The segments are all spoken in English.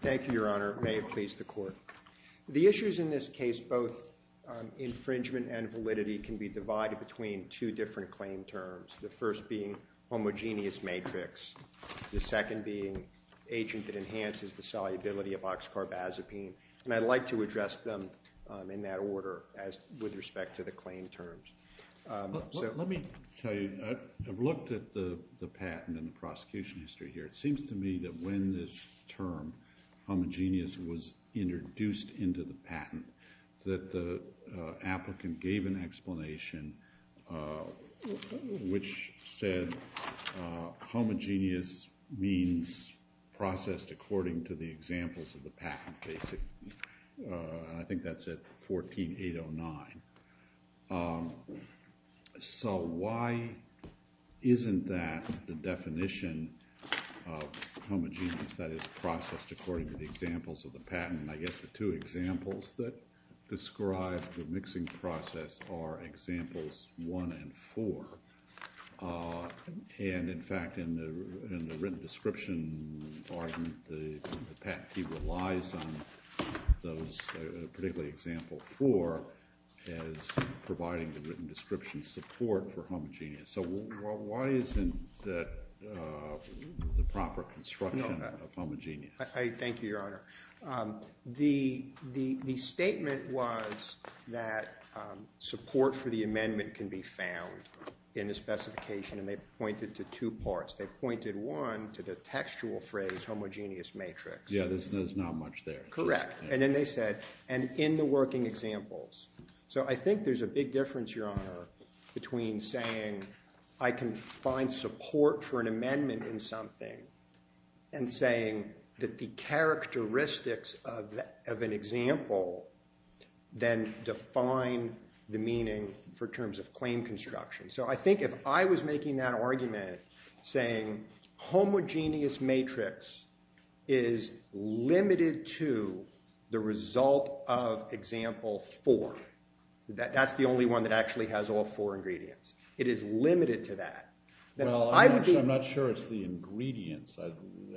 Thank you, Your Honor, it may have pleased the Court. The issues in this case, both infringement and validity, can be divided between two different claim terms, the first being homogeneous matrix, the second being agent that enhances the solubility of oxcarbazepine, and I'd like to address them in that order with respect to the claim terms. Let me tell you, I've looked at the patent and the prosecution history here, it seems to me that when this term, homogeneous, was introduced into the patent, that the applicant gave an explanation which said homogeneous means processed according to the examples of the patent, basically, and I think that's at 14809. So, why isn't that the definition of homogeneous, that is, processed according to the examples of the patent? I guess the two examples that describe the mixing process are examples one and four, and in fact, in the written description argument, the patent key relies on those, particularly example four, as providing the written description support for homogeneous. So why isn't that the proper construction of homogeneous? I thank you, Your Honor. The statement was that support for the amendment can be found in the specification, and they pointed to two parts. They pointed, one, to the textual phrase homogeneous matrix. Yeah, there's not much there. Correct. And then they said, and in the working examples. So I think there's a big difference, Your Honor, between saying I can find support for an amendment in something and saying that the characteristics of an example then define the meaning for terms of claim construction. So I think if I was making that argument saying homogeneous matrix is limited to the result of example four, that's the only one that actually has all four ingredients, it is limited to that. Well, I'm not sure it's the ingredients,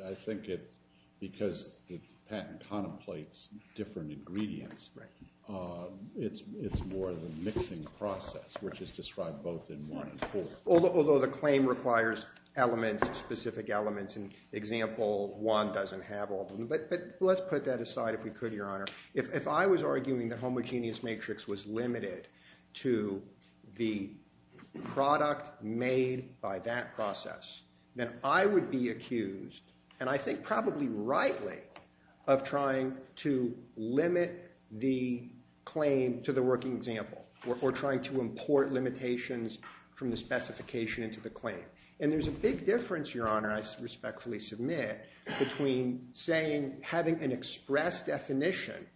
I think it's because the patent contemplates different ingredients. Right. It's more of a mixing process, which is described both in one and four. Although the claim requires specific elements, in example one doesn't have all of them. But let's put that aside, if we could, Your Honor. If I was arguing that homogeneous matrix was limited to the product made by that process, then I would be accused, and I think probably rightly, of trying to limit the claim to the working example, or trying to import limitations from the specification into the claim. And there's a big difference, Your Honor, I respectfully submit, between saying, having an express definition,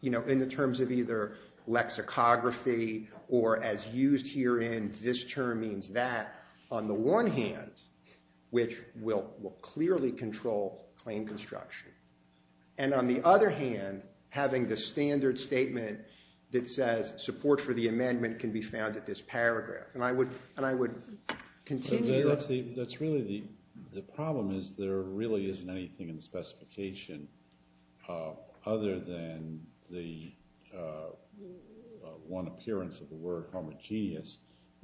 you know, in the terms of either lexicography, or as used here in this case, this term means that, on the one hand, which will clearly control claim construction. And on the other hand, having the standard statement that says, support for the amendment can be found at this paragraph. And I would continue. That's really the problem, is there really isn't anything in the specification, other than the one appearance of the word homogeneous,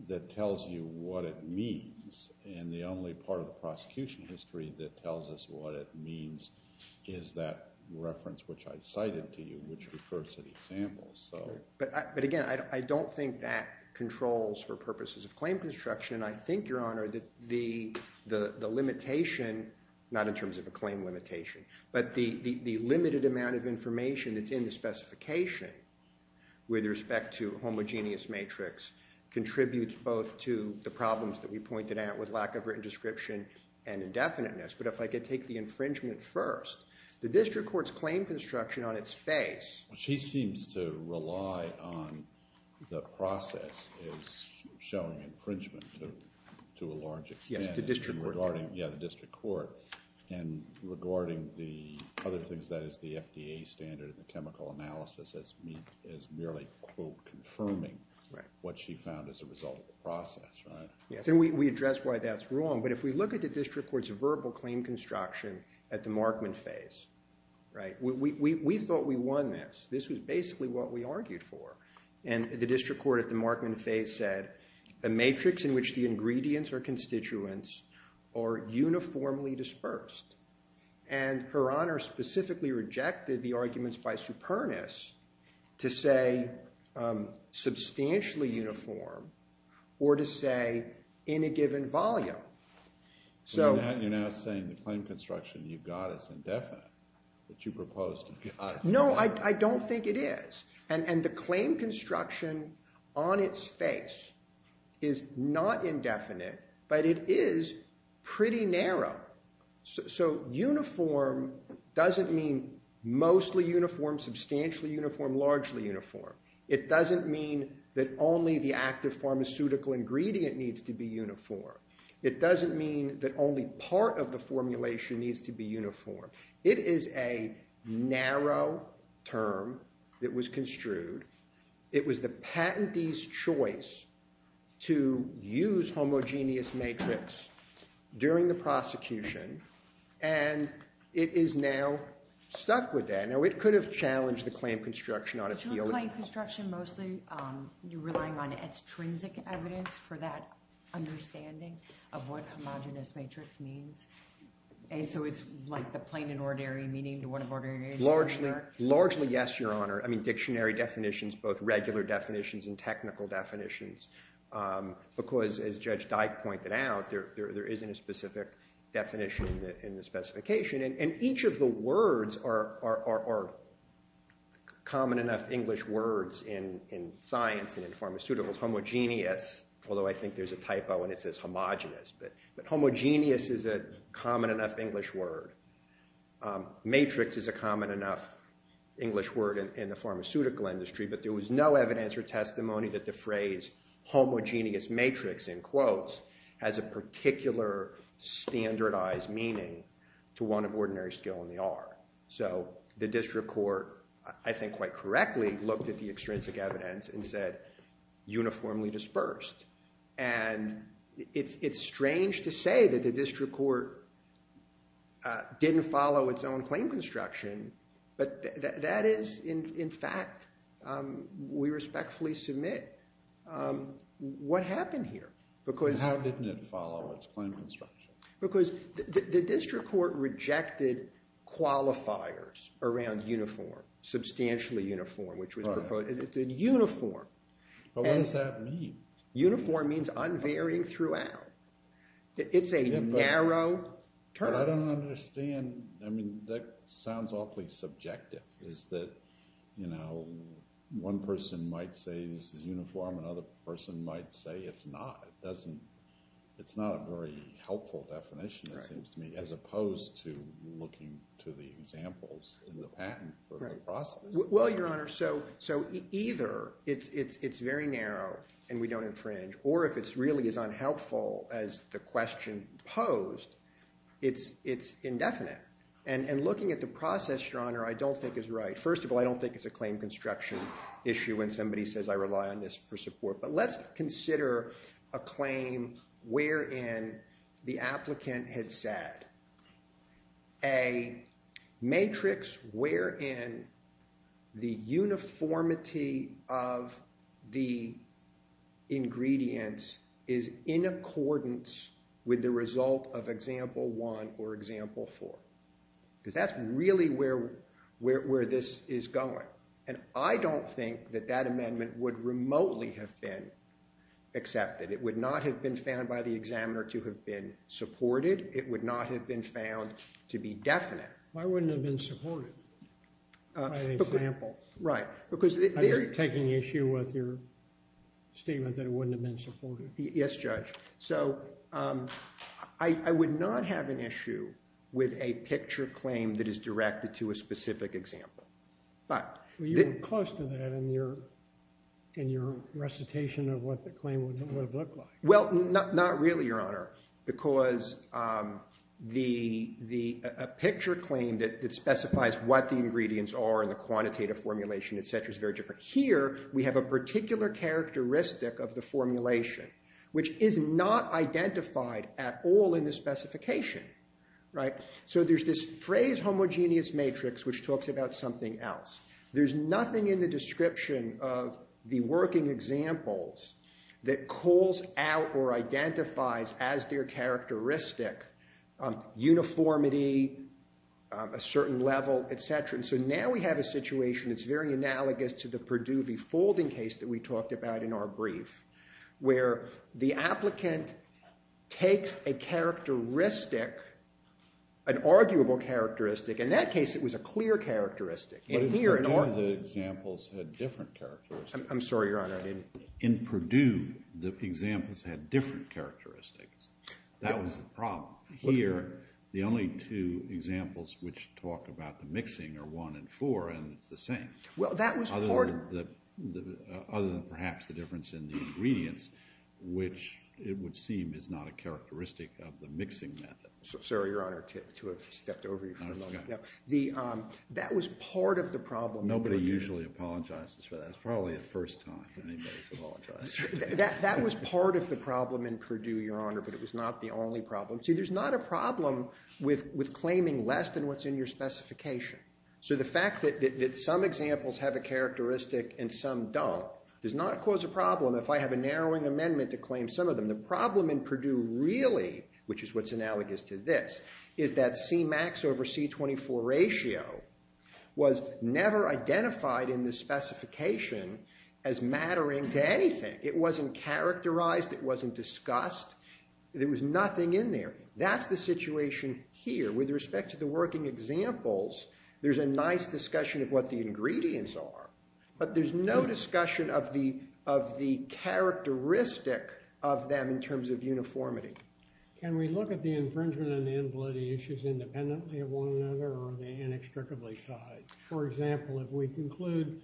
that tells you what it means. And the only part of the prosecution history that tells us what it means is that reference which I cited to you, which refers to the example. But again, I don't think that controls for purposes of claim construction. And I think, Your Honor, that the limitation, not in terms of a claim limitation, but the limitation that's in the specification, with respect to homogeneous matrix, contributes both to the problems that we pointed out, with lack of written description, and indefiniteness. But if I could take the infringement first, the district court's claim construction on its face. Well, she seems to rely on the process as showing infringement to a large extent. Yes, the district court. Yeah, the district court. And regarding the other things, that is the FDA standard, the chemical analysis, as merely quote, confirming what she found as a result of the process, right? Yes, and we address why that's wrong. But if we look at the district court's verbal claim construction at the Markman face, right? We thought we won this. This was basically what we argued for. And the district court at the Markman face said, a matrix in which the ingredients or the arguments are dispersed. And Her Honor specifically rejected the arguments by Supernus to say, substantially uniform, or to say, in a given volume. So you're now saying the claim construction you've got is indefinite, that you proposed to us. No, I don't think it is. And the claim construction on its face is not indefinite, but it is pretty narrow. So uniform doesn't mean mostly uniform, substantially uniform, largely uniform. It doesn't mean that only the active pharmaceutical ingredient needs to be uniform. It doesn't mean that only part of the formulation needs to be uniform. It is a narrow term that was construed. It was the patentee's choice to use homogeneous matrix during the prosecution. And it is now stuck with that. Now, it could have challenged the claim construction on its field. But you're claiming construction mostly relying on extrinsic evidence for that understanding of what homogeneous matrix means. And so it's like the plain and ordinary meaning to what an ordinary matrix is? Largely, yes, Your Honor. I mean, dictionary definitions, both regular definitions and technical definitions. Because as Judge Dyke pointed out, there isn't a specific definition in the specification. And each of the words are common enough English words in science and in pharmaceuticals. Homogeneous, although I think there's a typo and it says homogeneous. But homogeneous is a common enough English word. Matrix is a common enough English word in the pharmaceutical industry. But there was no evidence or testimony that the phrase homogeneous matrix, in quotes, has a particular standardized meaning to one of ordinary skill in the art. So the district court, I think quite correctly, looked at the extrinsic evidence and said uniformly dispersed. And it's strange to say that the district court didn't follow its own claim construction. But that is, in fact, we respectfully submit. What happened here? How didn't it follow its claim construction? Because the district court rejected qualifiers around uniform, substantially uniform, which was proposed in uniform. But what does that mean? Uniform means unvarying throughout. It's a narrow term. I don't understand. I mean, that sounds awfully subjective, is that one person might say this is uniform. Another person might say it's not. It's not a very helpful definition, it seems to me, as opposed to looking to the examples in the patent for the process. Well, Your Honor, so either it's very narrow and we don't infringe, or if it's really as unhelpful as the question posed, it's indefinite. And looking at the process, Your Honor, I don't think is right. First of all, I don't think it's a claim construction issue when somebody says I rely on this for support. But let's consider a claim wherein the applicant had said a matrix wherein the uniformity of the ingredients is in accordance with the result of example one or example four. Because that's really where this is going. And I don't think that that amendment would remotely have been accepted. It would not have been found by the examiner to have been supported. It would not have been found to be definite. Why wouldn't it have been supported by an example? Right. Because they're taking issue with your statement that it wouldn't have been supported. Yes, Judge. So I would not have an issue with a picture claim that is directed to a specific example. But you're close to that in your recitation of what the claim would have looked like. Well, not really, Your Honor, because a picture claim that specifies what the ingredients are in the quantitative formulation, et cetera, is very different. Here, we have a particular characteristic of the formulation, which is not identified at all in the specification. Right. So there's this phrase homogeneous matrix, which talks about something else. There's nothing in the description of the working examples that calls out or identifies as their characteristic uniformity, a certain level, et cetera. So now we have a situation that's very analogous to the Perdue v. Folding case that we talked about in our brief, where the applicant takes a characteristic, an arguable characteristic. In that case, it was a clear characteristic. But in Perdue, the examples had different characteristics. I'm sorry, Your Honor. In Perdue, the examples had different characteristics. That was the problem. Here, the only two examples which talk about the mixing are one and four, and it's the same. Well, that was part of the... Other than perhaps the difference in the ingredients, which it would seem is not a characteristic of the mixing method. Sorry, Your Honor, to have stepped over you for a moment. That was part of the problem in Perdue. Nobody usually apologizes for that. It's probably the first time anybody's apologized. That was part of the problem in Perdue, Your Honor, but it was not the only problem. See, there's not a problem with claiming less than what's in your specification. So the fact that some examples have a characteristic and some don't does not cause a problem if I have a narrowing amendment to claim some of them. The problem in Perdue really, which is what's analogous to this, is that Cmax over C24 ratio was never identified in the specification as mattering to anything. It wasn't characterized. It wasn't discussed. There was nothing in there. That's the situation here. With respect to the working examples, there's a nice discussion of what the ingredients are, but there's no discussion of the characteristic of them in terms of uniformity. Can we look at the infringement and invalidity issues independently of one another or are they inextricably tied? For example, if we conclude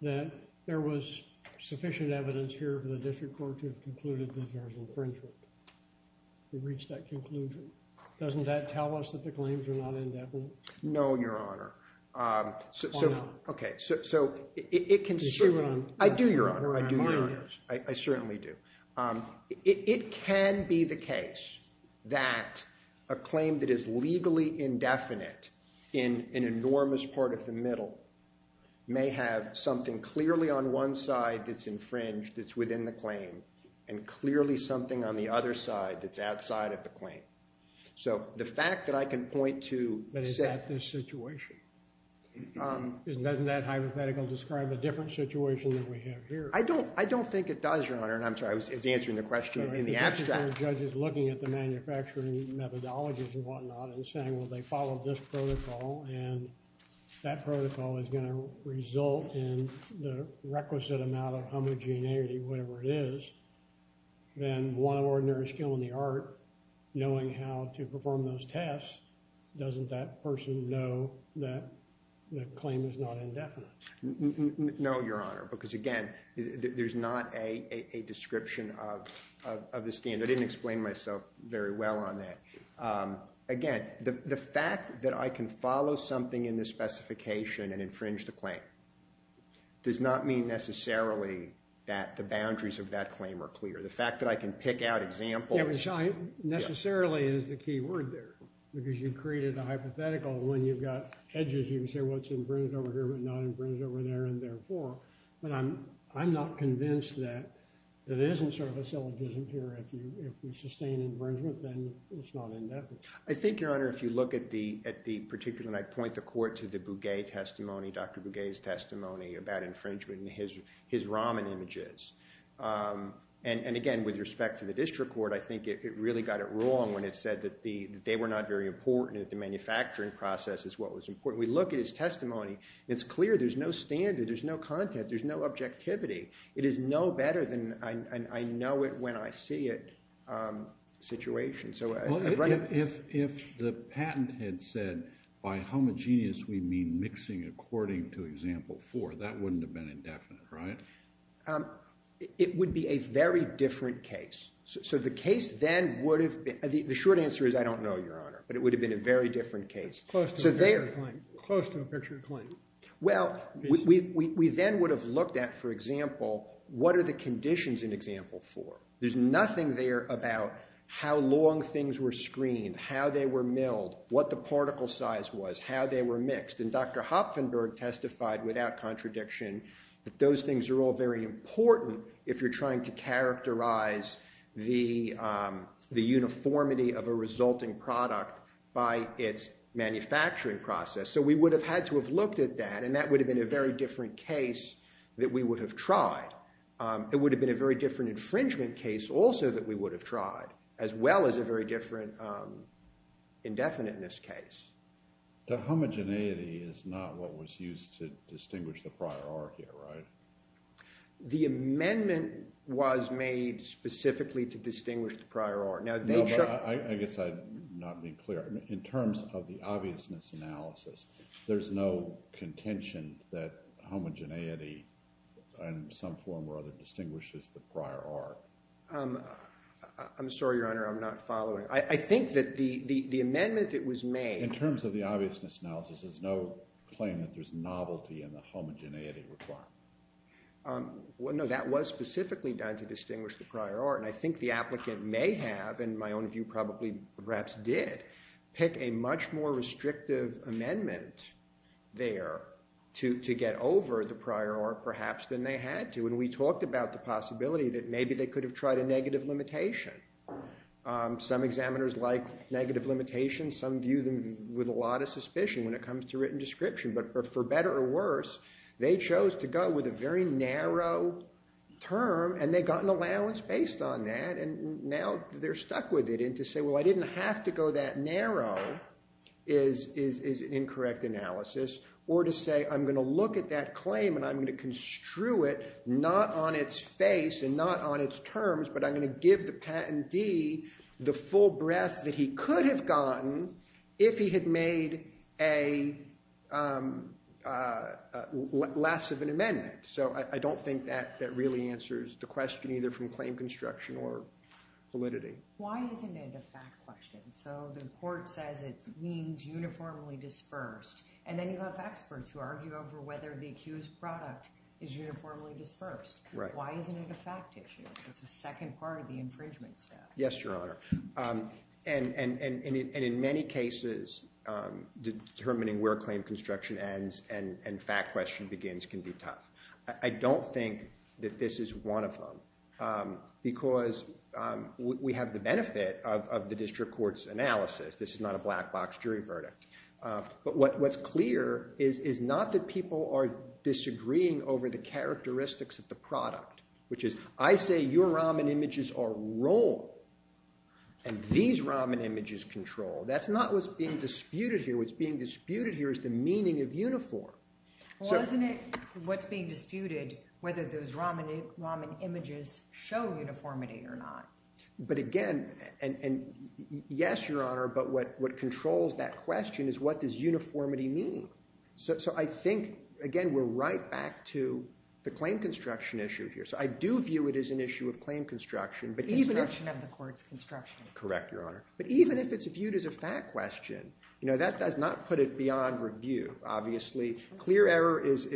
that there was sufficient evidence here for the district court to have concluded that there was infringement, to reach that conclusion, doesn't that tell us that the claims are not indefinite? No, Your Honor. So, okay, so it can certainly. I do, Your Honor. I do, Your Honor. I certainly do. It can be the case that a claim that is legally indefinite in an enormous part of the middle may have something clearly on one side that's infringed, that's within the claim, and clearly something on the other side that's outside of the claim. So, the fact that I can point to. But is that the situation? Doesn't that hypothetical describe a different situation than we have here? I don't think it does, Your Honor. And I'm sorry, I was answering the question in the abstract. Judges looking at the manufacturing methodologies and whatnot and saying, well, they followed this protocol and that protocol is going to result in the requisite amount of homogeneity, whatever it is. Then one ordinary skill in the art, knowing how to perform those tests, doesn't that person know that the claim is not indefinite? No, Your Honor, because again, there's not a description of the standard. I didn't explain myself very well on that. Again, the fact that I can follow something in this specification and infringe the claim does not mean necessarily that the boundaries of that claim are clear. The fact that I can pick out examples. Yeah, but necessarily is the key word there, because you created a hypothetical. When you've got edges, you can say, well, it's infringed over here, but not infringed over there and therefore. But I'm not convinced that it isn't sort of a syllogism here. If we sustain infringement, then it's not indefinite. I think, Your Honor, if you look at the particular, and I point the court to the Bouguet testimony, Dr. Bouguet's testimony about infringement and his Raman images. And again, with respect to the district court, I think it really got it wrong when it said that they were not very important, that the manufacturing process is what was important. We look at his testimony, it's clear there's no standard, there's no content, there's no objectivity. It is no better than I know it when I see it situation. So I've read it. If the patent had said, by homogeneous, we mean mixing according to example four, that wouldn't have been indefinite, right? It would be a very different case. So the case then would have been, the short answer is I don't know, Your Honor, but it would have been a very different case. Close to a picture claim. Well, we then would have looked at, for example, what are the conditions in example four? There's nothing there about how long things were screened, how they were milled, what the particle size was, how they were mixed. And Dr. Hopfenberg testified without contradiction that those things are all very important if you're trying to characterize the uniformity of a resulting product by its manufacturing process. So we would have had to have looked at that, and that would have been a very different case that we would have tried. It would have been a very different infringement case also that we would have tried, as well as a very different indefiniteness case. The homogeneity is not what was used to distinguish the prior R here, right? The amendment was made specifically to distinguish the prior R. No, but I guess I'm not being clear. In terms of the obviousness analysis, there's no contention that homogeneity in some form or other distinguishes the prior R. I'm sorry, Your Honor, I'm not following. I think that the amendment that was made. In terms of the obviousness analysis, there's no claim that there's novelty in the homogeneity requirement. No, that was specifically done to distinguish the prior R. And I think the applicant may have, in my own view, probably perhaps did pick a much more restrictive amendment there to get over the prior R, perhaps, than they had to. And we talked about the possibility that maybe they could have tried a negative limitation. Some examiners like negative limitations. Some view them with a lot of suspicion when it comes to written description. But for better or worse, they chose to go with a very narrow term, and they got an allowance based on that. And now they're stuck with it. And to say, well, I didn't have to go that narrow is an incorrect analysis. Or to say, I'm going to look at that claim, and I'm going to construe it not on its face and not on its terms, but I'm going to give the patentee the full breadth that he could have gotten if he had made less of an amendment. So I don't think that really answers the question, either from claim construction or validity. Why isn't it a fact question? So the court says it means uniformly dispersed. And then you have experts who argue over whether the accused product is uniformly dispersed. Why isn't it a fact issue? It's the second part of the infringement step. Yes, Your Honor. And in many cases, determining where claim construction ends and fact question begins can be tough. I don't think that this is one of them, because we have the benefit of the district court's analysis. This is not a black box jury verdict. But what's clear is not that people are disagreeing over the characteristics of the product, which is, I say your Raman images are wrong, and these Raman images control. That's not what's being disputed here. What's being disputed here is the meaning of uniform. Well, isn't it what's being disputed, whether those Raman images show uniformity or not? But again, yes, Your Honor. But what controls that question is, what does uniformity mean? So I think, again, we're right back to the claim construction issue here. So I do view it as an issue of claim construction. Construction of the court's construction. Correct, Your Honor. But even if it's viewed as a fact question, that does not put it beyond review. Clear error is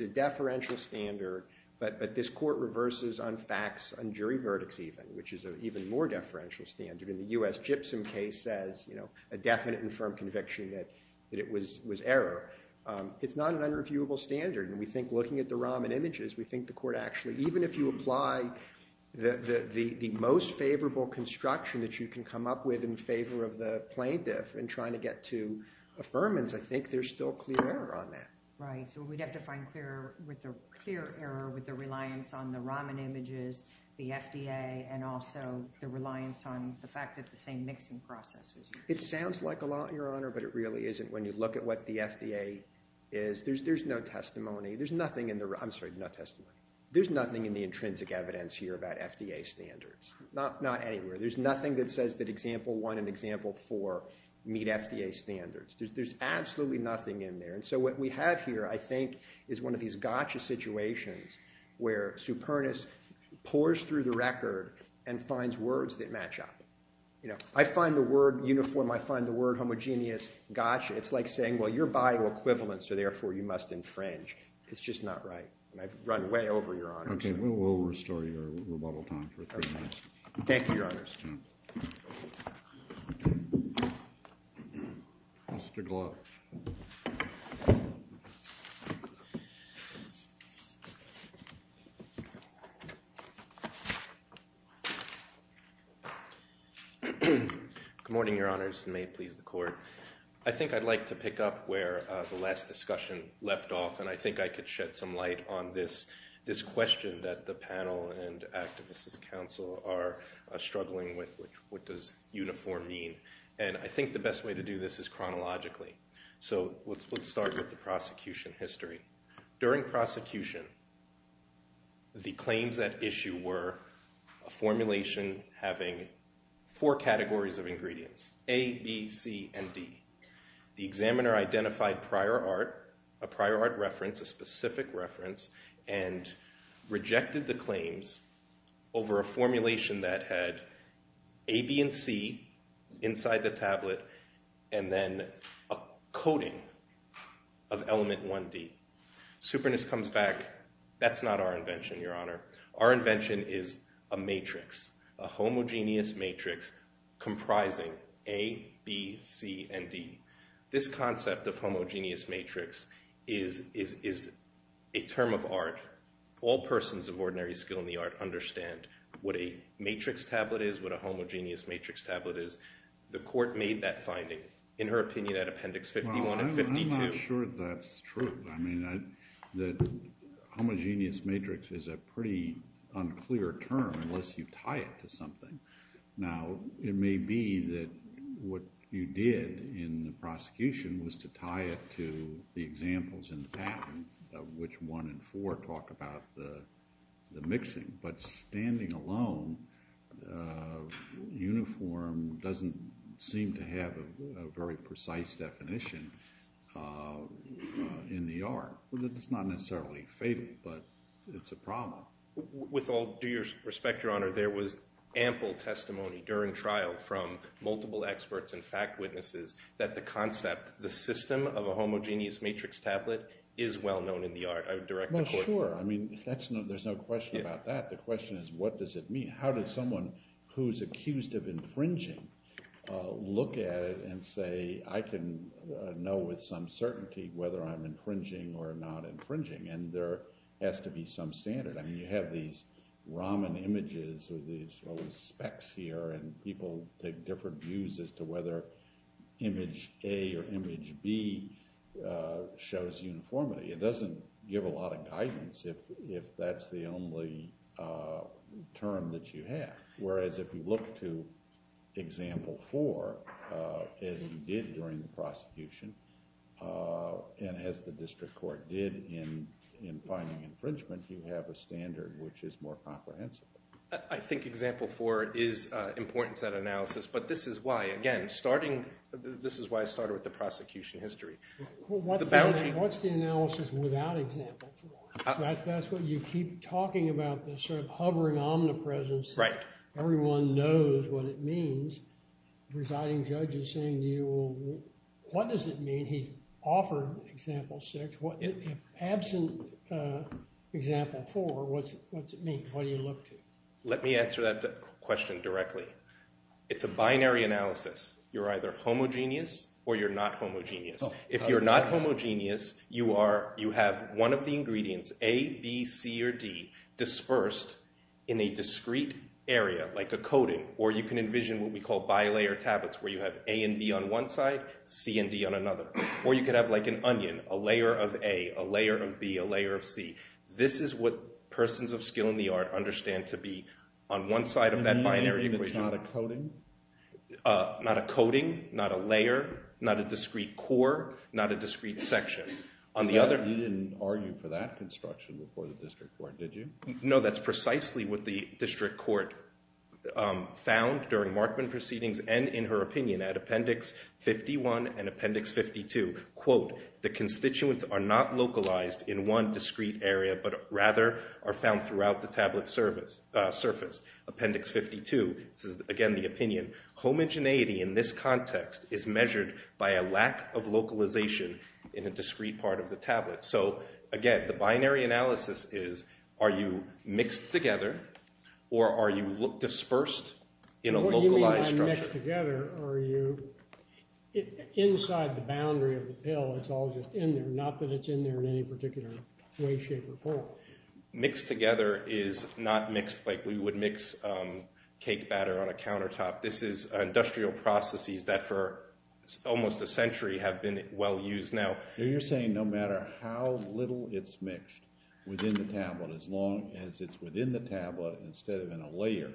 a deferential standard. But this court reverses on facts, on jury verdicts even, which is an even more deferential standard. In the US Gypsum case says, a definite and firm conviction that it was error. It's not an unreviewable standard. And we think looking at the Raman images, we think the court actually, even if you apply the most favorable construction that you can come up with in favor of the plaintiff and trying to get to affirmance, I think there's still clear error on that. Right, so we'd have to find clear error with the reliance on the Raman images, the FDA, and also the reliance on the fact that the same mixing process was used. It sounds like a lot, Your Honor. But it really isn't. When you look at what the FDA is, there's no testimony. There's nothing in the, I'm sorry, no testimony. There's nothing in the intrinsic evidence here about FDA standards. Not anywhere. There's nothing that says that example one and example four meet FDA standards. There's absolutely nothing in there. And so what we have here, I think, is one of these gotcha situations where supernus pours through the record and finds words that match up. I find the word uniform. I find the word homogeneous. Gotcha. It's like saying, well, you're bioequivalent, so therefore you must infringe. It's just not right. And I've run way over, Your Honor. OK, we'll restore your rebuttal time for three minutes. Thank you, Your Honors. Mr. Gluck. Good morning, Your Honors, and may it please the Court. I think I'd like to pick up where the last discussion left off. And I think I could shed some light on this question that the panel and Activists' Council are struggling with. What does uniform mean? And I think the best way to do this is chronologically. So let's start with the prosecution history. During prosecution, the claims at issue were a formulation having four categories of ingredients, A, B, C, and D. The examiner identified prior art, a prior art reference, a specific reference, and rejected the claims over a formulation that had A, B, and C inside the tablet, and then a coding of element 1D. Superness comes back. That's not our invention, Your Honor. Our invention is a matrix, a homogeneous matrix comprising A, B, C, and D. This concept of homogeneous matrix is a term of art. All persons of ordinary skill in the art understand what a matrix tablet is, what a homogeneous matrix tablet is. The court made that finding, in her opinion, at Appendix 51 and 52. Well, I'm not sure that's true. I mean, that homogeneous matrix is a pretty unclear term unless you tie it to something. Now, it may be that what you did in the prosecution was to tie it to the examples in the patent, which 1 and 4 talk about the mixing. But standing alone, uniform doesn't seem to have a very precise definition in the art. It's not necessarily fatal, but it's a problem. With all due respect, Your Honor, there was ample testimony during trial from multiple experts and fact witnesses that the concept, the system of a homogeneous matrix tablet is well-known in the art. I would direct the court to that. Well, sure. I mean, there's no question about that. The question is, what does it mean? How does someone who's accused of infringing look at it and say, I can know with some certainty whether I'm infringing or not infringing? And there has to be some standard. I mean, you have these Raman images or these specks here, and people take different views as to whether image A or image B shows uniformity. It doesn't give a lot of guidance if that's the only term that you have. Whereas if you look to example 4, as you did during the prosecution, and as the district court did in finding infringement, you have a standard which is more comprehensive. I think example 4 is important to that analysis. But this is why, again, starting, this is why I started with the prosecution history. What's the analysis without example 4? That's what you keep talking about, this sort of hovering omnipresence. Everyone knows what it means. Residing judge is saying to you, well, what does it mean? He's offered example 6. Absent example 4, what's it mean? What do you look to? Let me answer that question directly. It's a binary analysis. You're either homogeneous or you're not homogeneous. If you're not homogeneous, you have one of the ingredients, A, B, C, or D, dispersed in a discrete area, like a coating. Or you can envision what we call bilayer tablets, where you have A and B on one side, C and D on another. Or you could have like an onion, a layer of A, a layer of B, a layer of C. This is what persons of skill in the art understand to be on one side of that binary equation. Meaning it's not a coating? Not a coating, not a layer, not a discrete core, not a discrete section. On the other hand, you didn't argue for that construction before the district court, did you? No, that's precisely what the district court found during Markman proceedings and in her opinion at Appendix 51 and Appendix 52. Quote, the constituents are not localized in one discrete area, but rather are found throughout the tablet surface. Appendix 52, this is again the opinion. Homogeneity in this context is measured by a lack of localization in a discrete part of the tablet. So again, the binary analysis is, are you mixed together or are you dispersed in a localized structure? Mixed together, are you inside the boundary of the pill? It's all just in there, not that it's in there in any particular way, shape, or form. Mixed together is not mixed like we would mix cake batter on a countertop. This is industrial processes that for almost a century have been well used. Now, you're saying no matter how little it's mixed within the tablet, as long as it's within the tablet instead of in a layer,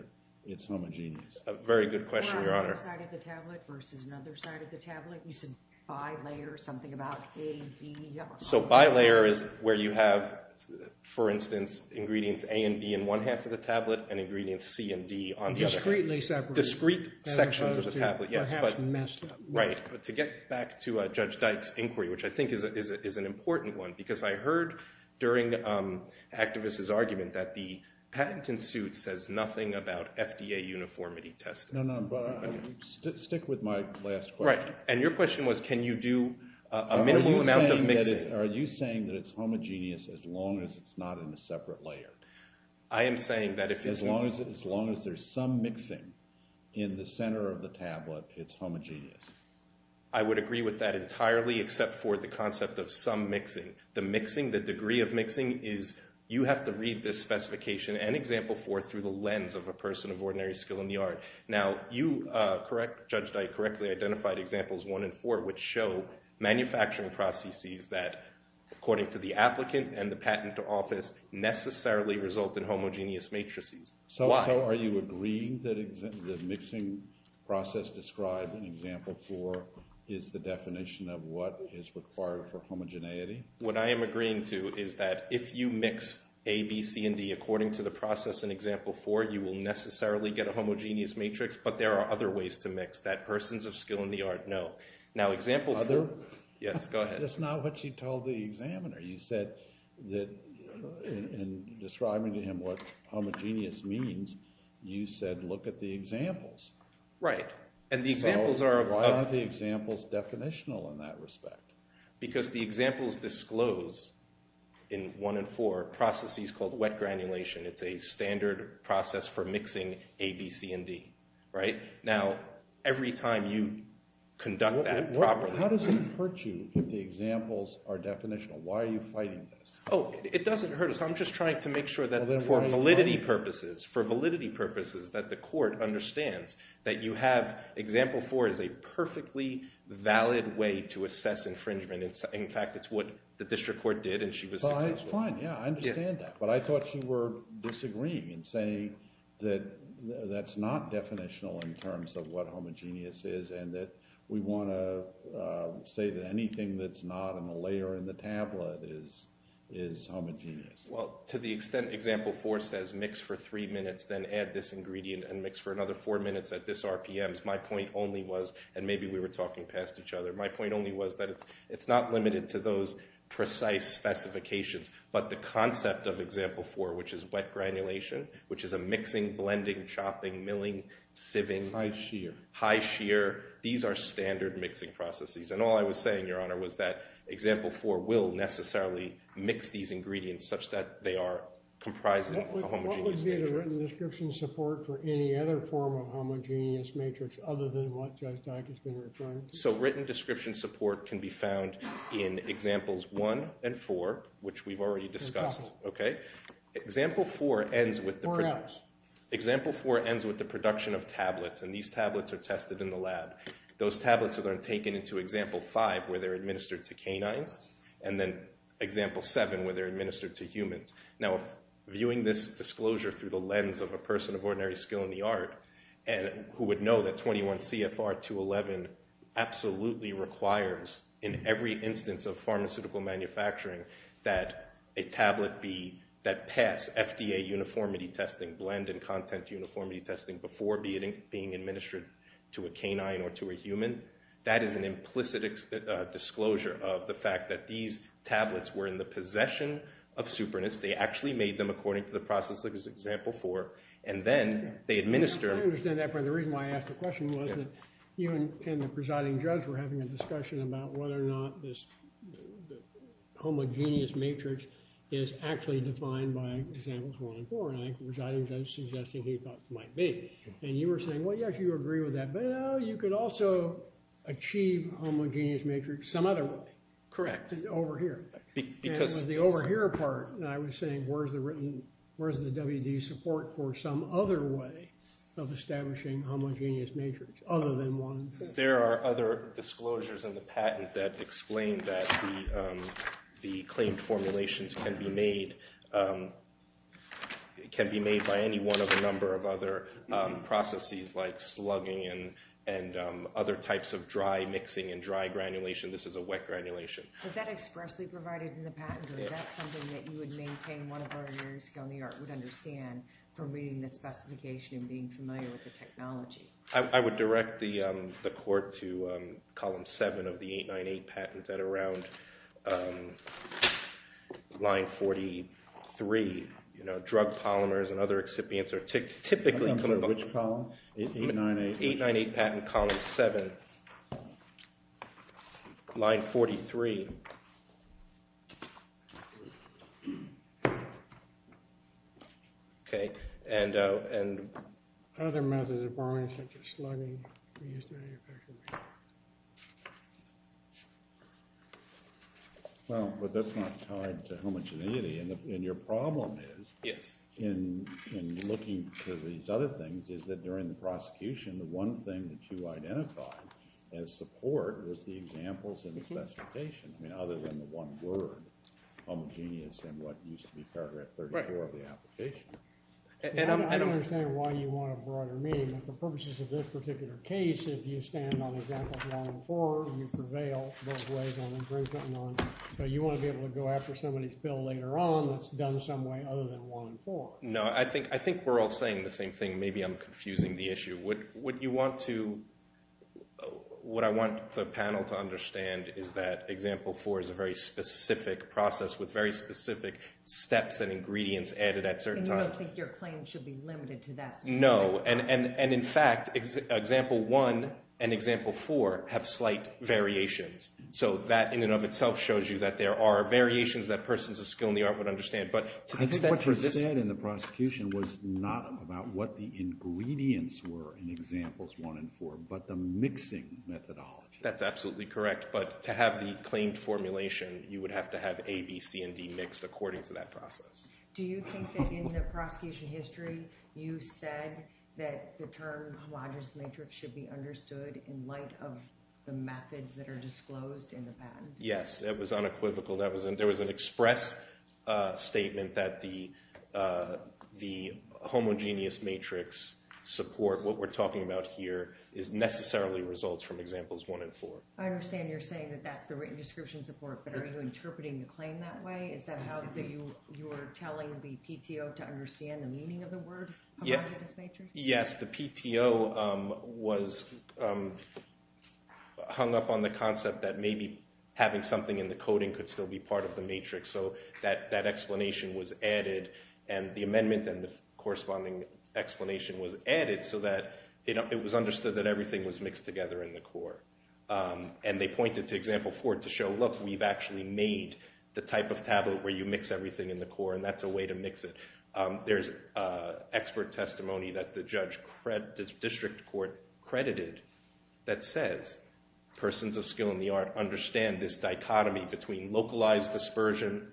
it's homogeneous. A very good question, Your Honor. On one side of the tablet versus another side of the tablet, you said bi-layer, something about A, B, yellow. So bi-layer is where you have, for instance, ingredients A and B in one half of the tablet and ingredients C and D on the other half. Discreetly separated. Discrete sections of the tablet, yes. Perhaps messed up. Right. But to get back to Judge Dyke's inquiry, which I think is an important one, because I heard during activists' argument that the patent in suit says nothing about FDA uniformity testing. No, no, but stick with my last question. Right. And your question was, can you do a minimal amount of mixing? Are you saying that it's homogeneous as long as it's not in a separate layer? I am saying that if it's not. As long as there's some mixing in the center of the tablet, it's homogeneous. I would agree with that entirely, except for the concept of some mixing. The mixing, the degree of mixing is, you have to read this specification and example for through the lens of a person of ordinary skill in the art. Now, you, Judge Dyke, correctly identified examples one and four, which show manufacturing processes that, according to the applicant and the patent office, necessarily result in homogeneous matrices. So are you agreeing that the mixing process described in example four is the definition of what is required for homogeneity? What I am agreeing to is that if you mix A, B, C, and D according to the process in example four, you will necessarily get a homogeneous matrix. But there are other ways to mix. That person's of skill in the art, no. Now, example four. Yes, go ahead. That's not what you told the examiner. You said that, in describing to him what homogeneous means, you said, look at the examples. Right. And the examples are of other. Why are the examples definitional in that respect? Because the examples disclose, in one and four, processes called wet granulation. It's a standard process for mixing A, B, C, and D. Now, every time you conduct that properly. How does it hurt you if the examples are definitional? Why are you fighting this? Oh, it doesn't hurt us. I'm just trying to make sure that, for validity purposes, that the court understands that you have example four as a perfectly valid way to assess infringement. In fact, it's what the district court did, and she was successful. Fine, yeah, I understand that. But I thought you were disagreeing in saying that that's not definitional in terms of what homogeneous is, and that we want to say that anything that's not in the layer in the tablet is homogeneous. Well, to the extent example four says, mix for three minutes, then add this ingredient, and mix for another four minutes at this RPM's, my point only was, and maybe we were talking past each other, my point only was that it's not limited to those precise specifications. But the concept of example four, which is wet granulation, which is a mixing, blending, chopping, milling, sieving. High shear. High shear. These are standard mixing processes. And all I was saying, Your Honor, was that example four will necessarily mix these ingredients such that they are comprised of a homogeneous matrix. What would be the written description support for any other form of homogeneous matrix other than what Judge Dyke has been referring to? So written description support can be found in examples one and four, which we've already discussed. Example four ends with the production of tablets, and these tablets are tested in the lab. Those tablets are then taken into example five, where they're administered to canines, and then example seven, where they're administered to humans. Now, viewing this disclosure through the lens of a person of ordinary skill in the art, who would know that 21 CFR 211 absolutely requires in every instance of pharmaceutical manufacturing that a tablet be that pass FDA uniformity testing, blend and content uniformity testing before being administered to a canine or to a human, that is an implicit disclosure of the fact that these tablets were in the possession of superintendents. They actually made them according to the process as example four, and then they administer them. I understand that, but the reason why I asked the question was that you and the presiding judge were having a discussion about whether or not this homogeneous matrix is actually defined by examples one and four. And I think the presiding judge suggested he thought might be. And you were saying, well, yes, you agree with that, but you could also achieve homogeneous matrix some other way. Correct. Over here. Because the over here part, and I was saying where's the WD support for some other way of establishing homogeneous matrix other than one. There are other disclosures in the patent that explain that the claimed formulations can be made by any one of a number of other processes like slugging and other types of dry mixing and dry granulation. This is a wet granulation. Is that expressly provided in the patent, or is that something that you would maintain one of our years ago in the art would understand from reading the specification and being familiar with the technology? I would direct the court to column seven of the 898 patent at around line 43. Drug polymers and other excipients are typically coming up. Which column? 898 patent, column seven. OK. Line 43. OK. And other methods of borrowing such as slugging are used in manufacturing. Well, but that's not tied to homogeneity. And your problem is, in looking to these other things, is that during the prosecution, the one thing that you identified as support was the examples in the specification, other than the one word, homogeneous, and what used to be paragraph 34 of the application. And I don't understand why you want a broader meaning. But the purposes of this particular case, if you stand on example one and four, you prevail both ways on improvement. But you want to be able to go after somebody's bill later on that's done some way other than one and four. No, I think we're all saying the same thing. Maybe I'm confusing the issue. What you want to, what I want the panel to understand is that example four is a very specific process with very specific steps and ingredients added at certain times. And you don't think your claim should be limited to that specific process? No. And in fact, example one and example four have slight variations. So that, in and of itself, shows you that there are variations that persons of skill in the art would understand. But to the extent for this. I think what you said in the prosecution was not about what the ingredients were in examples one and four, but the mixing methodology. That's absolutely correct. But to have the claimed formulation, you would have to have A, B, C, and D mixed according to that process. Do you think that in the prosecution history, you said that the term homogenous matrix should be understood in light of the methods that are disclosed in the patent? Yes. It was unequivocal. There was an express statement that the homogeneous matrix support, what we're talking about here, is necessarily results from examples one and four. I understand you're saying that that's the written description support. But are you interpreting the claim that way? Is that how you were telling the PTO to understand the meaning of the word homogenous matrix? Yes. The PTO was hung up on the concept that maybe having something in the coding could still be part of the matrix. So that explanation was added. And the amendment and the corresponding explanation was added so that it was understood that everything was mixed together in the core. And they pointed to example four to show, look, we've actually made the type of tablet where you mix everything in the core. And that's a way to mix it. There's expert testimony that the district court credited that says persons of skill in the art understand this dichotomy between localized dispersion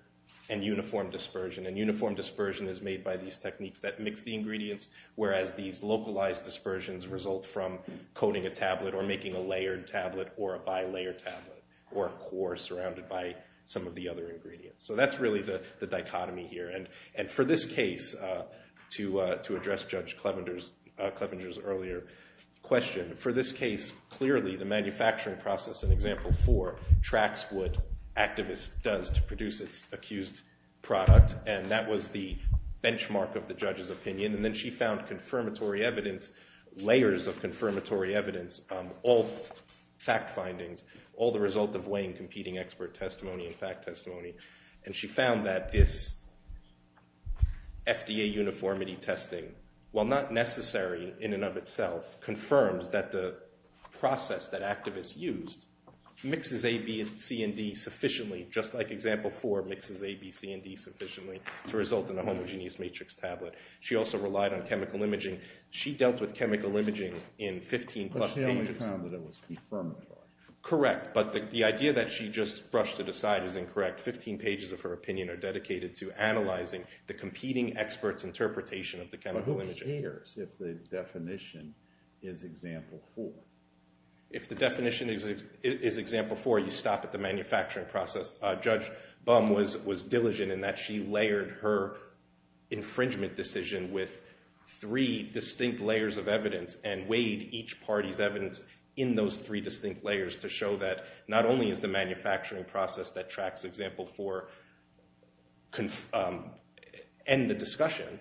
and uniform dispersion. And uniform dispersion is made by these techniques that mix the ingredients, whereas these localized dispersions result from coding a tablet or making a layered tablet or a bi-layered tablet or a core surrounded by some of the other ingredients. So that's really the dichotomy here. And for this case, to address Judge Clevenger's earlier question, for this case, clearly the manufacturing process in example four tracks what activists does to produce its accused product. And that was the benchmark of the judge's opinion. And then she found layers of confirmatory evidence, all fact findings, all the result of weighing competing expert testimony and fact testimony. And she found that this FDA uniformity testing, while not necessary in and of itself, confirms that the process that activists used mixes A, B, C, and D sufficiently, just like example four mixes A, B, C, and D sufficiently to result in a homogeneous matrix tablet. She also relied on chemical imaging. She dealt with chemical imaging in 15-plus pages. But she only found that it was confirmatory. Correct. But the idea that she just brushed it aside is incorrect. 15 pages of her opinion are dedicated to analyzing the competing experts' interpretation of the chemical imaging. If the definition is example four. If the definition is example four, you stop at the manufacturing process. Judge Bum was diligent in that she layered her infringement decision with three distinct layers of evidence and weighed each party's evidence in those three distinct layers to show that not only is the manufacturing process that tracks example four end the discussion,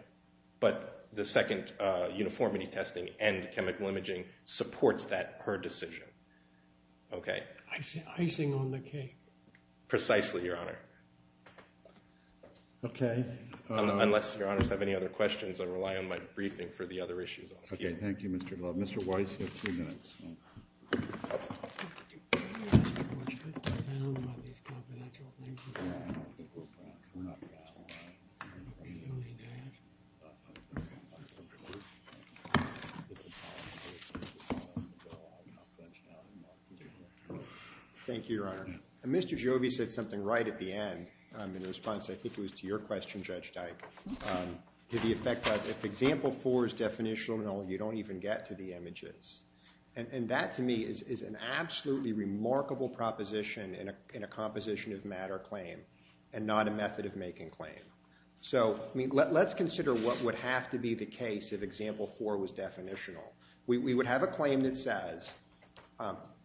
but the second, uniformity testing and chemical imaging supports that her decision. OK. Icing on the cake. Precisely, Your Honor. OK. Unless Your Honors have any other questions, I rely on my briefing for the other issues. OK, thank you, Mr. Glove. Mr. Weiss, you have two minutes. I have a question. I have a question. I have a question. It's a policy issue. It's a policy issue. I'm not going to touch on it. Thank you, Your Honor. Mr. Jobe said something right at the end in response, I think it was to your question, Judge Dyke, to the effect that if example four is definitional, you don't even get to the images. And that, to me, is an absolutely remarkable proposition in a composition of matter claim and not a method of making claim. So let's consider what would have to be the case if example four was definitional. We would have a claim that says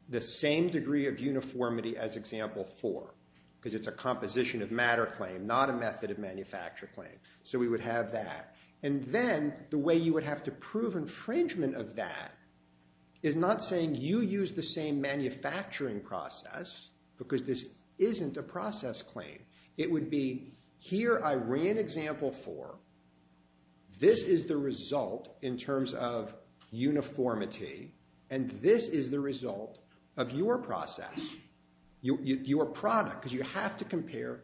the same degree of uniformity as example four, because it's a composition of matter claim, not a method of manufacture claim. So we would have that. And then the way you would have to prove infringement of that is not saying you use the same manufacturing process, because this isn't a process claim. It would be, here I ran example four. This is the result in terms of uniformity. And this is the result of your process, your product, because you have to compare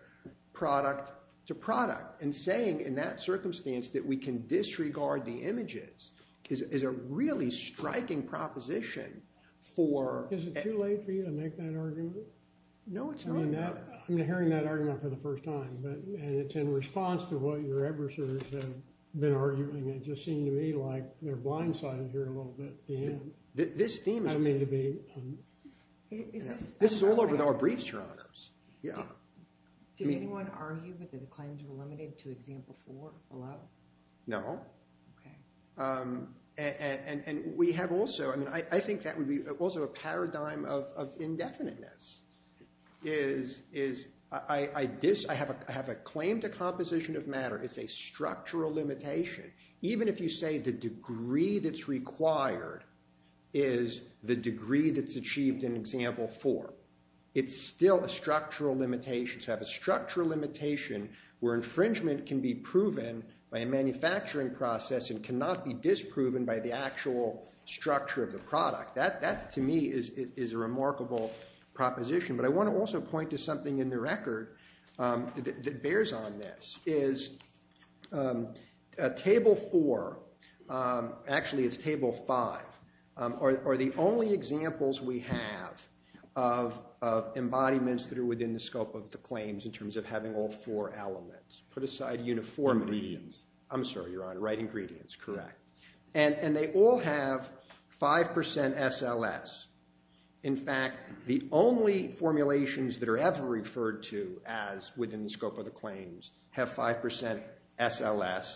product to product. And saying in that circumstance that we can disregard the images is a really striking proposition for- Is it too late for you to make that argument? No, it's not. I'm hearing that argument for the first time. And it's in response to what your adversaries have been arguing. It just seemed to me like they're blindsided here a little bit at the end. This theme is- I mean to be- This is all over our briefs, Your Honors. Did anyone argue that the claims were limited to example four below? No. And we have also, I mean, I think that would be also a paradigm of indefiniteness, is I have a claim to composition of matter. It's a structural limitation. Even if you say the degree that's required is the degree that's achieved in example four, it's still a structural limitation. To have a structural limitation where infringement can be proven by a manufacturing process and cannot be disproven by the actual structure of the product. That, to me, is a remarkable proposition. But I want to also point to something in the record that bears on this. Is table four, actually it's table five, are the only examples we have of embodiments that are within the scope of the claims in terms of having all four elements. Put aside uniformity. Ingredients. I'm sorry, Your Honor, right, ingredients, correct. And they all have 5% SLS. In fact, the only formulations that are ever referred to as within the scope of the claims have 5% SLS.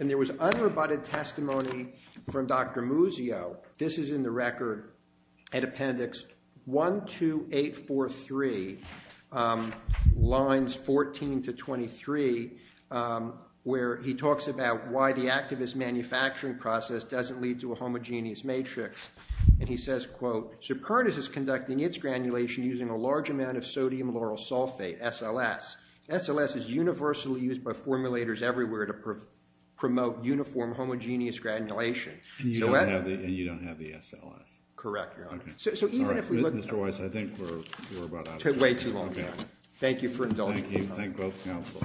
And there was unrebutted testimony from Dr. Muzio. This is in the record at appendix 12843, lines 14 to 23, where he talks about why the activist manufacturing process doesn't lead to a homogeneous matrix. And he says, quote, Superntis is conducting its granulation using a large amount of sodium lauryl sulfate, SLS. SLS is universally used by formulators everywhere to promote uniform, homogeneous granulation. And you don't have the SLS. Correct, Your Honor. So even if we look at that. Mr. Weiss, I think we're about out of time. Way too long. Thank you for indulging me. Thank you. Thank both counsel. The case is submitted.